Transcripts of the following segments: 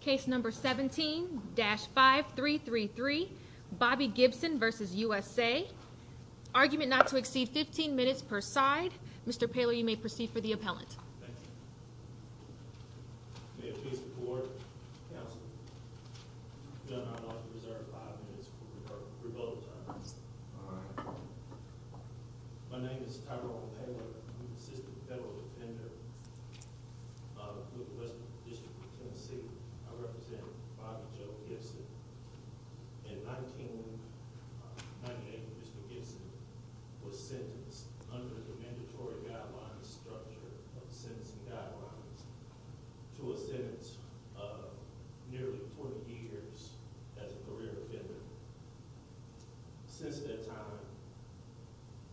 Case No. 17-5333 Bobby Gibson v. USA Argument not to exceed 15 minutes per side Mr. Paylor you may proceed for the appellant Thank you. May it please the court, counsel, the judge and I would like to reserve five minutes for rebuttal time. My name is Tyrone Paylor. I'm an assistant federal defender of the Westman District of Tennessee. I represent Bobby Joe Gibson. In 1998, Mr. Gibson was sentenced under the mandatory guidelines structure of sentencing guidelines to a sentence of nearly 40 years as a career offender. Since that time,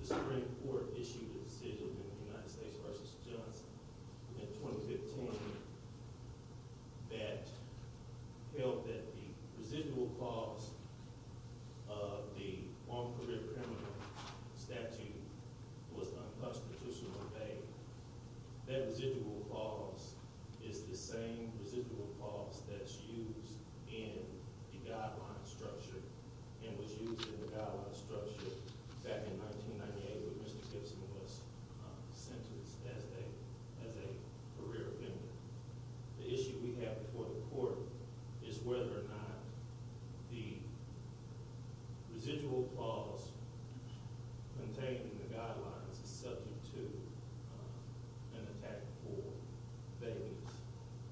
the Supreme Court issued a decision in the United States v. Johnson in 2015 that held that the residual cost of the former career criminal statute was unconstitutional. That residual cost is the same residual cost that's used in the guideline structure and was used in the guideline structure back in 1998 when Mr. Gibson was sentenced as a career offender. The issue we have before the court is whether or not the residual cost contained in the guidelines is subject to an attack for vagueness.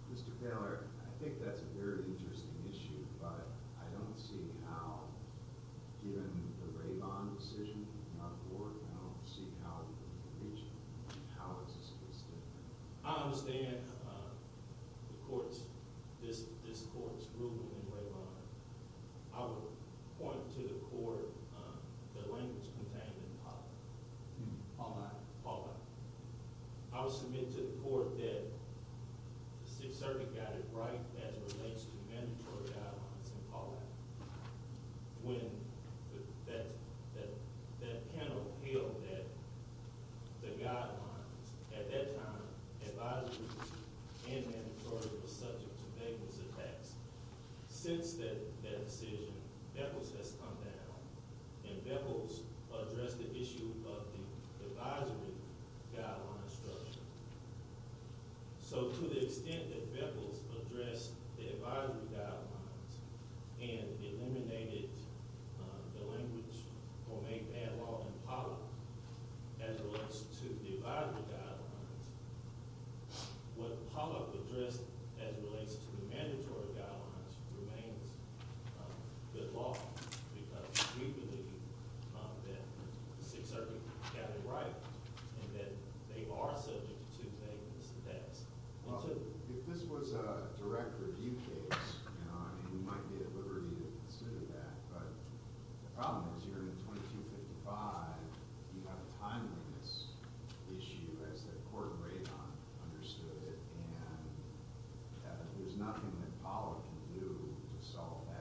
Mr. Paylor, I think that's a very interesting issue, but I don't see how, given the Raybond decision, I don't see how it would be reached. How is this case different? I understand this court's ruling in Raybond. I would point to the language contained in Paulack. I would submit to the court that the Sixth Circuit got it right as it relates to mandatory guidelines in Paulack when that panel held that the guidelines at that time, advisories and mandatory, were subject to vagueness attacks. Since that decision, Beckles has come down and Beckles addressed the issue of the advisory guideline structure. To the extent that Beckles addressed the advisory guidelines and eliminated the language or made that law in Paulack as it relates to the advisory guidelines, what Paulack addressed as it relates to the mandatory guidelines remains good law because we believe that the Sixth Circuit got it right and that they are subject to vagueness attacks. If this was a direct review case, I mean, we might be at liberty to consider that, but the problem is here in 2255, you have a timeliness issue as the court in Raybond understood it, and there's nothing that Paulack can do to solve that.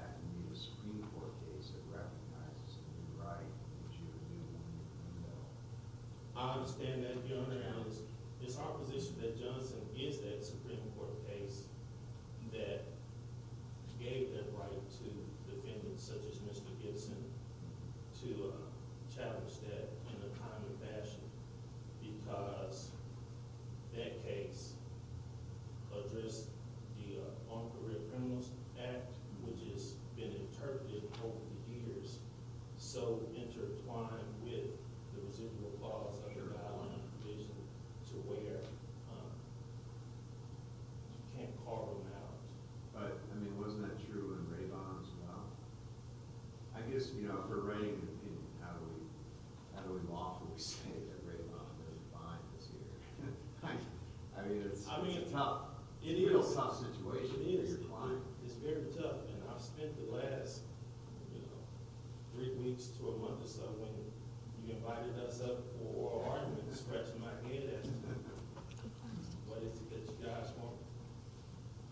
I understand that, Your Honor, and it's our position that Johnson is that Supreme Court case that gave that right to defendants such as Mr. Gibson to challenge that in a timely fashion because that case addressed the On Career Criminals Act, which has been interpreted over the years so intertwined with the residual clause under the Island Provision to where you can't carve them out. But, I mean, wasn't that true in Raybond as well? I guess, you know, if we're writing an opinion, how do we lawfully say that Raybond is fine this year? I mean, it's a tough, real tough situation. It is. It's very tough, and I've spent the last, you know, three weeks to a month or so when you invited us up for an argument, scratching my head as to what it is that you guys want.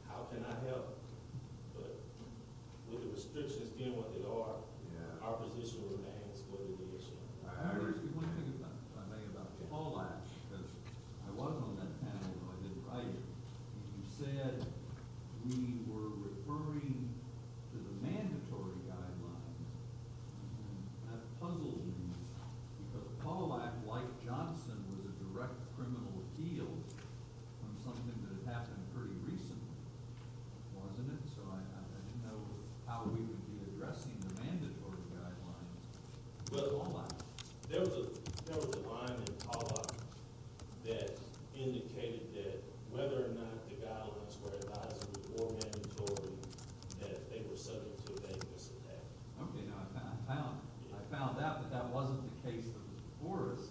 How can I help? But, with the restrictions being what they are, our position remains for litigation. I just want to make a comment about Paulack because I was on that panel, but I didn't write it. You said we were referring to the mandatory guidelines, and that puzzled me because Paulack, like Johnson, was a direct criminal appeal on something that had happened pretty recently, wasn't it? So, I didn't know how we would be addressing the mandatory guidelines with Paulack. There was a line in Paulack that indicated that whether or not the guidelines were advisable or mandatory, that they were subject to a dangerous attack. Okay, now, I found out that that wasn't the case that was before us.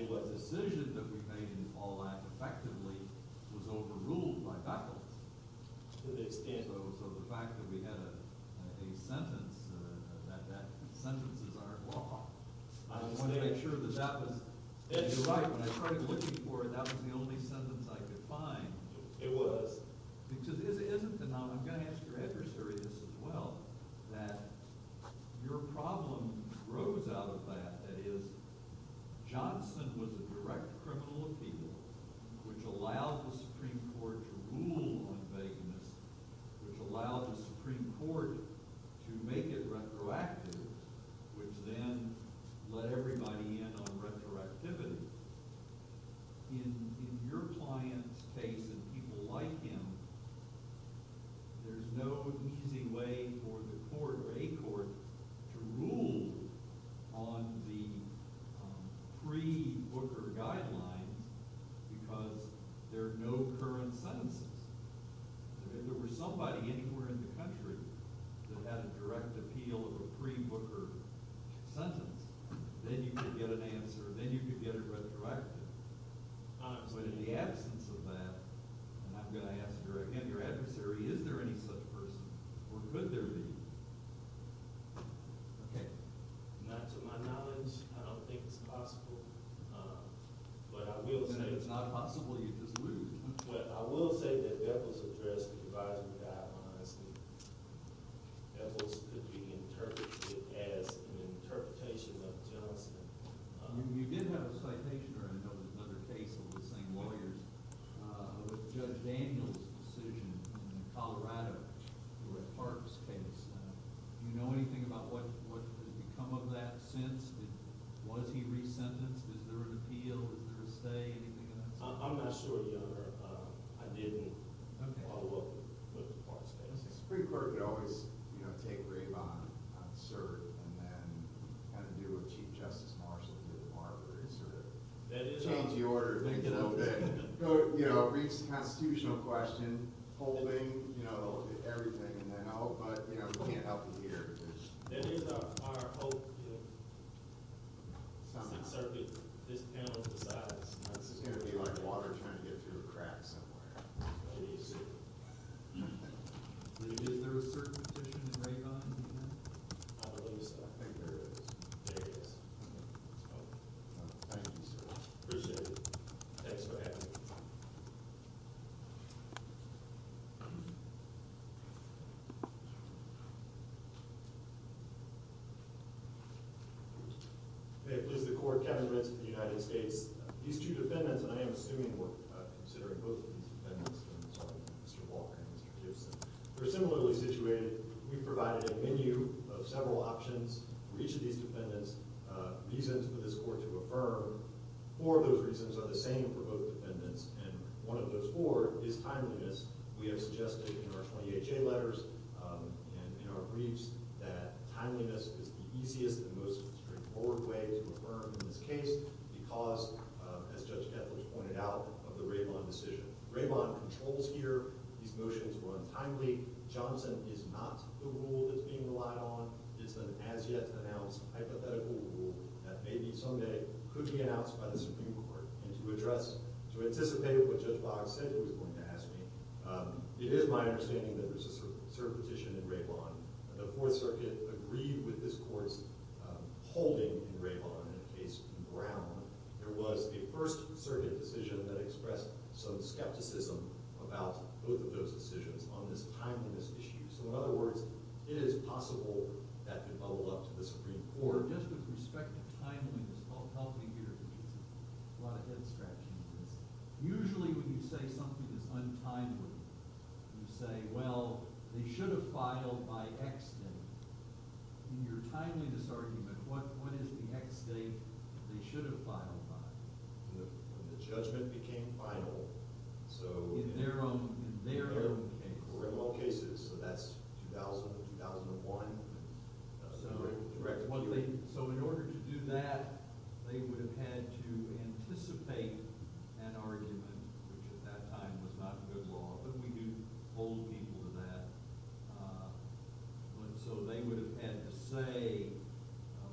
The decision that we made in Paulack effectively was overruled by faculty. So, the fact that we had a sentence, that sentence is our flaw. I want to make sure that that was— That's right. When I started looking for it, that was the only sentence I could find. It was. Now, I'm going to ask your adversary this as well, that your problem rose out of that. That is, Johnson was a direct criminal appeal, which allowed the Supreme Court to rule on vagueness, which allowed the Supreme Court to make it retroactive, which then let everybody in on retroactivity. In your client's case and people like him, there's no easy way for the court or a court to rule on the pre-Booker guidelines because there are no current sentences. If there were somebody anywhere in the country that had a direct appeal of a pre-Booker sentence, then you could get an answer, then you could get it retroactive. But in the absence of that, and I'm going to ask you again, your adversary, is there any such person, or could there be? Okay. Not to my knowledge. I don't think it's possible. But I will say— And if it's not possible, you just lose. But I will say that that was addressed in the advisory guidelines, that that could be interpreted as an interpretation of Johnson. You did have a citation, or I know there's another case of the same lawyers, with Judge Daniels' decision in Colorado for a Parks case. Do you know anything about what has become of that since? Was he resentenced? Is there an appeal? Does Chris stay? Anything of that sort? I'm not sure, Your Honor. I didn't follow up with the Parks case. The Supreme Court could always take grave on cert and then kind of do what Chief Justice Marshall did with Marbury and sort of change the order of things a little bit. You know, reach the constitutional question, holding, you know, everything, and then I hope—but, you know, we can't help you here. It is our hope that this panel decides— This is going to be like water trying to get through a crack somewhere. Easy. Is there a cert petition in Raybond? I believe so. I think there is. Thank you, sir. Appreciate it. Thanks for having me. May it please the Court, Kevin Ritz of the United States. These two defendants, and I am assuming we're considering both of these defendants, I'm sorry, Mr. Walker and Mr. Gibson, are similarly situated. We've provided a menu of several options for each of these defendants. Reasons for this Court to affirm four of those reasons are the same for both defendants, and one of those four is timeliness. We have suggested in our EHA letters and in our briefs that timeliness is the easiest and most straightforward way to affirm in this case because, as Judge Kettler pointed out, of the Raybond decision. Raybond controls here. These motions were untimely. Johnson is not the rule that's being relied on. It's an as-yet-announced hypothetical rule that maybe someday could be announced by the Supreme Court. To anticipate what Judge Boggs said he was going to ask me, it is my understanding that there's a cert petition in Raybond. The Fourth Circuit agreed with this Court's holding in Raybond in a case in Brown. There was a First Circuit decision that expressed some skepticism about both of those decisions on this timeliness issue. So, in other words, it is possible that could bubble up to the Supreme Court. Judge Kettler, just with respect to timeliness, help me here. There's a lot of head-scratching in this. Usually, when you say something is untimely, you say, well, they should have filed by X date. In your timeliness argument, what is the X date they should have filed by? When the judgment became final, so— In their own— In their own cases, so that's 2000 and 2001. Correct. So in order to do that, they would have had to anticipate an argument, which at that time was not good law. But we do hold people to that. So they would have had to say,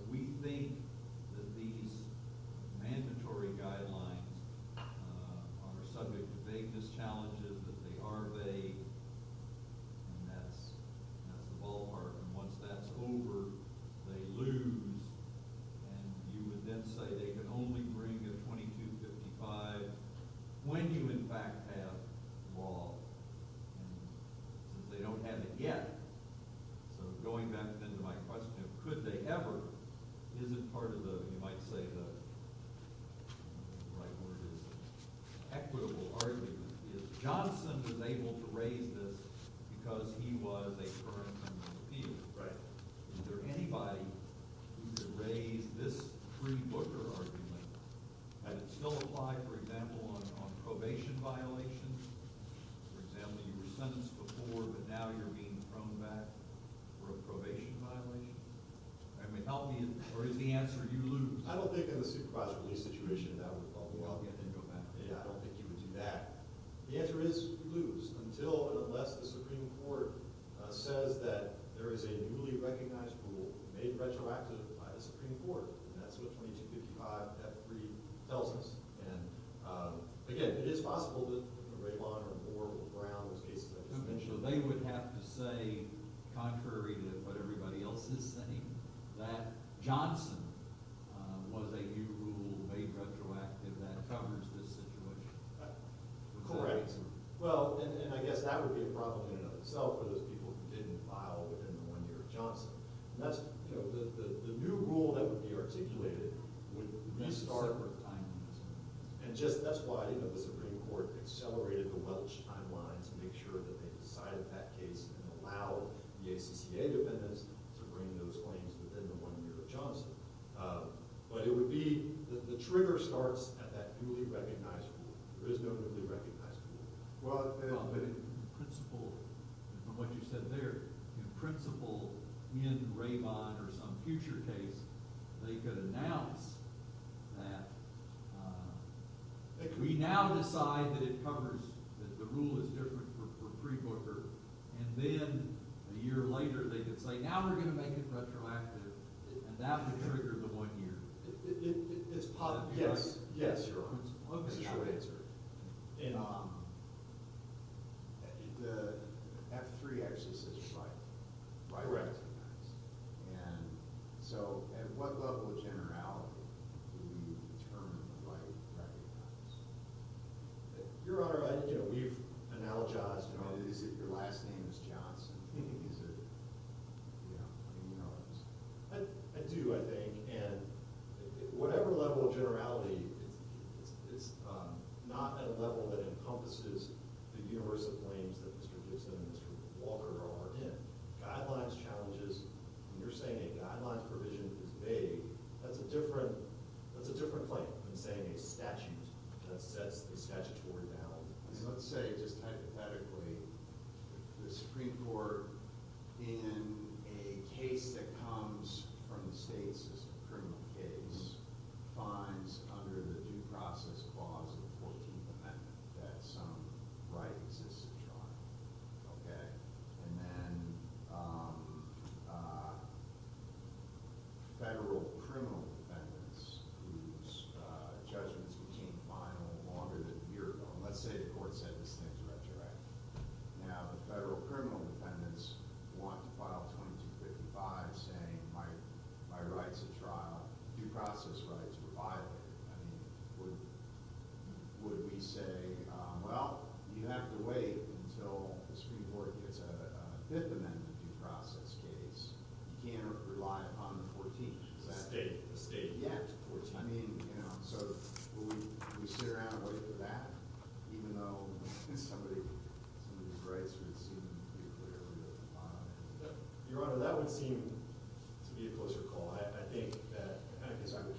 we think that these mandatory guidelines are subject to vagueness challenges, that they are vague. And that's the ballpark. And once that's over, they lose. And you would then say they can only bring a 2255 when you in fact have law. And since they don't have it yet, so going back then to my question of could they ever, isn't part of the— Johnson was able to raise this because he was a current member of the field. Right. Is there anybody who could raise this free booker argument? Had it still applied, for example, on probation violations? For example, you were sentenced before, but now you're being thrown back for a probation violation? I mean, how many—or is the answer you lose? I don't think in the supervised release situation that would— Oh, you didn't go back. Yeah, I don't think you would do that. The answer is you lose, until and unless the Supreme Court says that there is a newly recognized rule made retroactive by the Supreme Court. And that's what 2255, F3, tells us. And again, it is possible that a very long or a board will drown those cases I just mentioned. So they would have to say, contrary to what everybody else is saying, that Johnson was a new rule made retroactive that covers this situation. Correct. Well, and I guess that would be a problem in and of itself for those people who didn't file within the one year of Johnson. And that's—the new rule that would be articulated would restart— That's a separate timeline. And just—that's why the Supreme Court accelerated the Welch timeline to make sure that they decided that case and allowed the ACCA defendants to bring those claims within the one year of Johnson. But it would be—the trigger starts at that newly recognized rule. There is no newly recognized rule. Well, but in principle, from what you said there, in principle, in Raybon or some future case, they could announce that we now decide that it covers—that the rule is different for pre-Booker. And then a year later they could say, now we're going to make it retroactive, and that would trigger the one year. It's possible. Yes. Yes, Your Honor. Just a short answer. The F3 actually says Wright. Correct. And so at what level of generality do we determine the Wright recognize? Your Honor, we've analogized—I mean, is it your last name is Johnson? I do, I think. And whatever level of generality—it's not at a level that encompasses the universal claims that Mr. Gibson and Mr. Walker are in. Guidelines challenges—when you're saying a guidelines provision is vague, that's a different claim than saying a statute that sets the statutory down. Let's say, just hypothetically, the Supreme Court, in a case that comes from the states as a criminal case, finds under the due process clause of the 14th Amendment that some Wright existed, Your Honor. Okay. And then federal criminal defendants whose judgments became final longer than a year ago—let's say the court said this thing's retroactive. Now, the federal criminal defendants want to file 2255 saying my rights of trial, due process rights, were violated. I mean, would we say, well, you have to wait until the Supreme Court gets a Fifth Amendment due process case. You can't rely upon the 14th. The state. Yeah. I mean, you know, so would we sit around and wait for that, even though somebody's rights would seem nuclear? Your Honor, that would seem to be a closer call.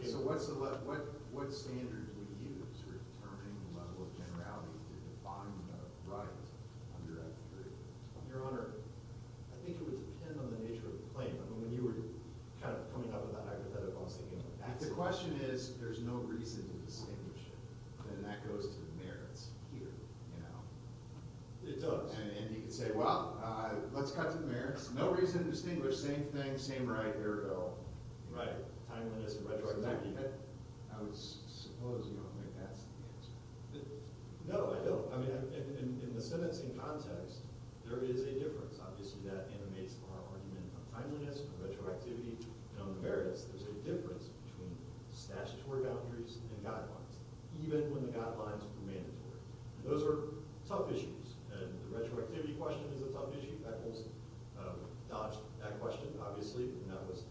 So what standard do we use for determining the level of generality to define a right under that theory? Your Honor, I think it would depend on the nature of the claim. I mean, when you were kind of coming up with that hypothetical, I'll say, you know— The question is, there's no reason to distinguish it. And that goes to the merits here, you know. It does. And you can say, well, let's cut to the merits. No reason to distinguish. Same thing. Same right. Here we go. Right. Timeliness and retroactivity. I would suppose you don't think that's the answer. No, I don't. I mean, in the sentencing context, there is a difference. Obviously, that animates our argument on timeliness, on retroactivity, and on the merits. There's a difference between statutory boundaries and guidelines, even when the guidelines were mandatory. Those are tough issues. And the retroactivity question is a tough issue. Beckles dodged that question, obviously, and that was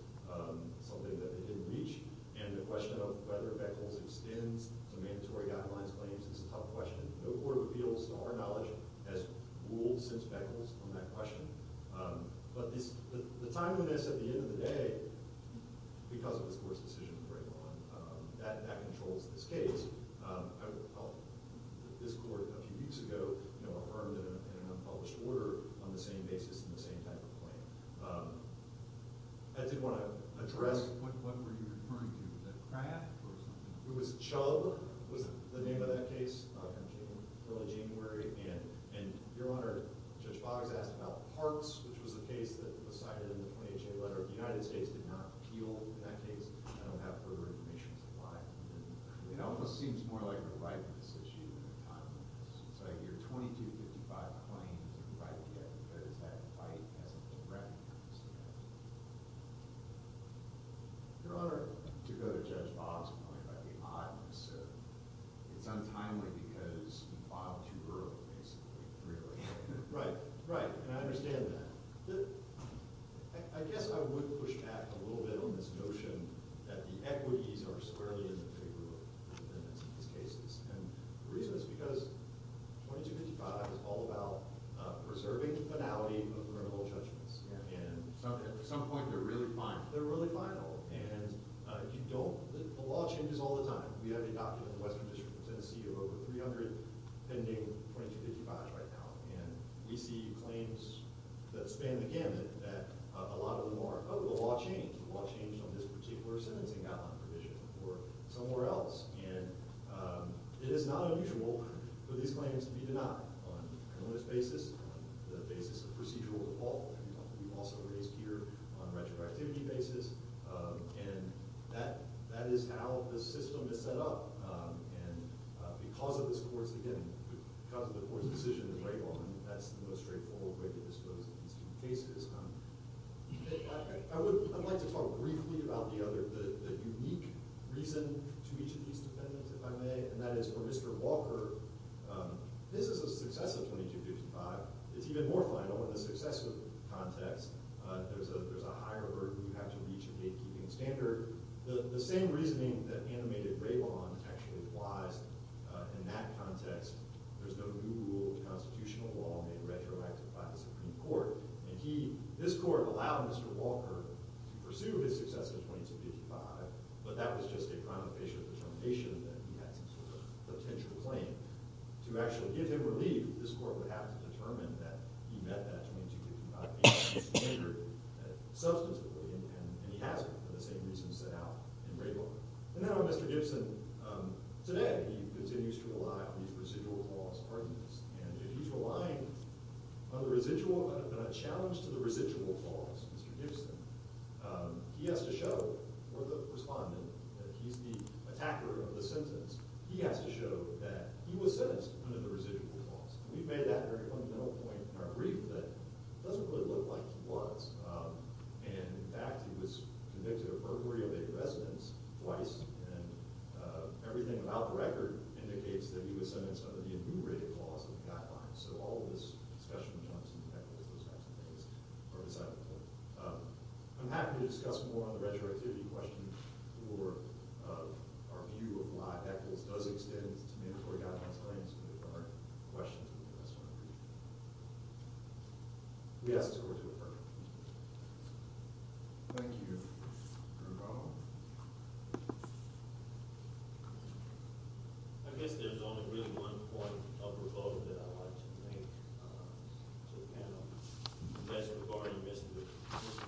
something that they didn't reach. And the question of whether Beckles extends to mandatory guidelines claims is a tough question. No court appeals to our knowledge as ruled since Beckles on that question. But the timeliness at the end of the day, because of this Court's decision to bring it on, that controls this case. I felt that this Court, a few weeks ago, affirmed in an unpublished order on the same basis and the same type of claim. I did want to address— What were you referring to? Was that Kraft or something? It was Chubb was the name of that case, early January. And, Your Honor, Judge Boggs asked about Parks, which was the case that was cited in the 28-J letter. The United States did not appeal in that case. I don't have further information as to why. It almost seems more like a ripeness issue than a timeliness. It's like your 2255 claim isn't right yet because that fight hasn't been read. Your Honor, to go to Judge Boggs' point about the oddness of— It's untimely because you filed too early, basically, really. Right, right, and I understand that. I guess I would push back a little bit on this notion that the equities are solely in the favor of the defendants in these cases. The reason is because 2255 is all about preserving the finality of criminal judgments. At some point, they're really final. They're really final, and you don't—the law changes all the time. We have a document in the Western District of Tennessee of over 300 pending 2255 right now. And we see claims that span the gamut that a lot of the law changed. The law changed on this particular sentencing outline provision or somewhere else. And it is not unusual for these claims to be denied on an onus basis, on the basis of procedural default. We've also raised here on retroactivity basis. And that is how this system is set up. And because of this court's—again, because of the court's decision in Raybon, that's the most straightforward way to dispose of these cases. I would like to talk briefly about the other—the unique reason to each of these defendants, if I may. And that is for Mr. Walker, this is a success of 2255. It's even more final in the successive context. There's a higher burden you have to reach in gatekeeping standard. The same reasoning that animated Raybon actually applies in that context. There's no new rule of constitutional law made retroactive by the Supreme Court. And he—this court allowed Mr. Walker to pursue his success in 2255, but that was just a kind of facial determination that he had some sort of potential claim. To actually give him relief, this court would have to determine that he met that 2255 gatekeeping standard substantively. And he hasn't, for the same reasons set out in Raybon. And now Mr. Gibson, today, he continues to rely on these residual clause pardons. And if he's relying on the residual—on a challenge to the residual clause, Mr. Gibson, he has to show for the respondent that he's the attacker of the sentence. He has to show that he was sentenced under the residual clause. And we've made that very fundamental point in our brief that it doesn't really look like he was. And, in fact, he was convicted of perjury of eight residents, twice. And everything about the record indicates that he was sentenced under the enumerated clause of the guidelines. So all of this discussion of jumps and heckles, those types of things, are beside the point. I'm happy to discuss more on the retroactivity question for our view of why heckles does extend to mandatory guidelines claims. Questions? Yes. Thank you. I guess there's only really one point of revote that I'd like to make to the panel. And that's regarding Mr.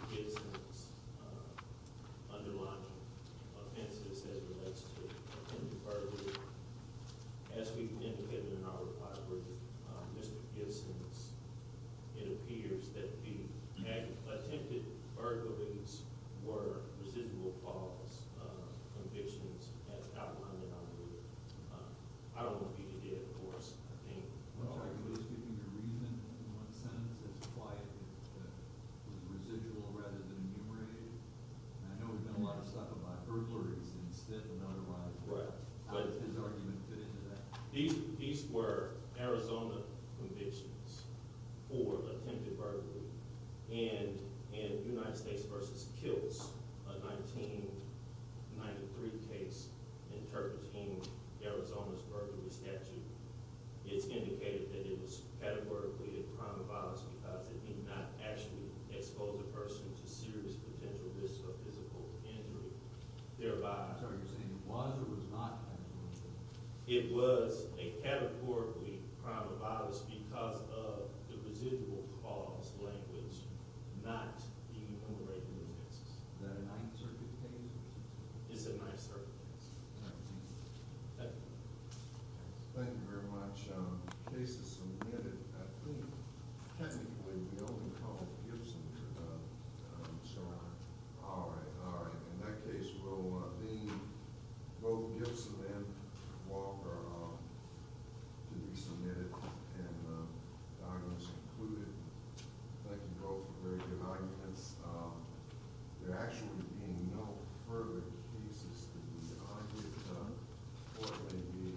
Gibson's underlying offenses as it relates to him being perjured. As we've indicated in our reply brief, Mr. Gibson, it appears that the attempted burglaries were residual clause convictions as outlined in our brief. I don't want to be the dead horse, I think. Well, I can at least give you your reason in one sentence as to why it was residual rather than enumerated. And I know we've done a lot of stuff about burglaries instead of notarized. How does his argument fit into that? These were Arizona convictions for attempted burglary in United States v. Kilts, a 1993 case interpreting Arizona's burglary statute. It's indicated that it was categorically a crime of violence because it did not actually expose a person to serious potential risks of physical injury. I'm sorry, are you saying it was or was not a crime of violence? It was a categorically a crime of violence because of the residual clause language not being enumerated as risks. Is that a Ninth Circuit case? It's a Ninth Circuit case. Thank you very much. The case is submitted, I think, technically, we only called Gibson, your son-in-law. All right, all right. In that case, we'll leave both Gibson and Walker to be submitted. And the argument is concluded. Thank you both for very good arguments. There actually being no further cases to be argued or maybe adjourned.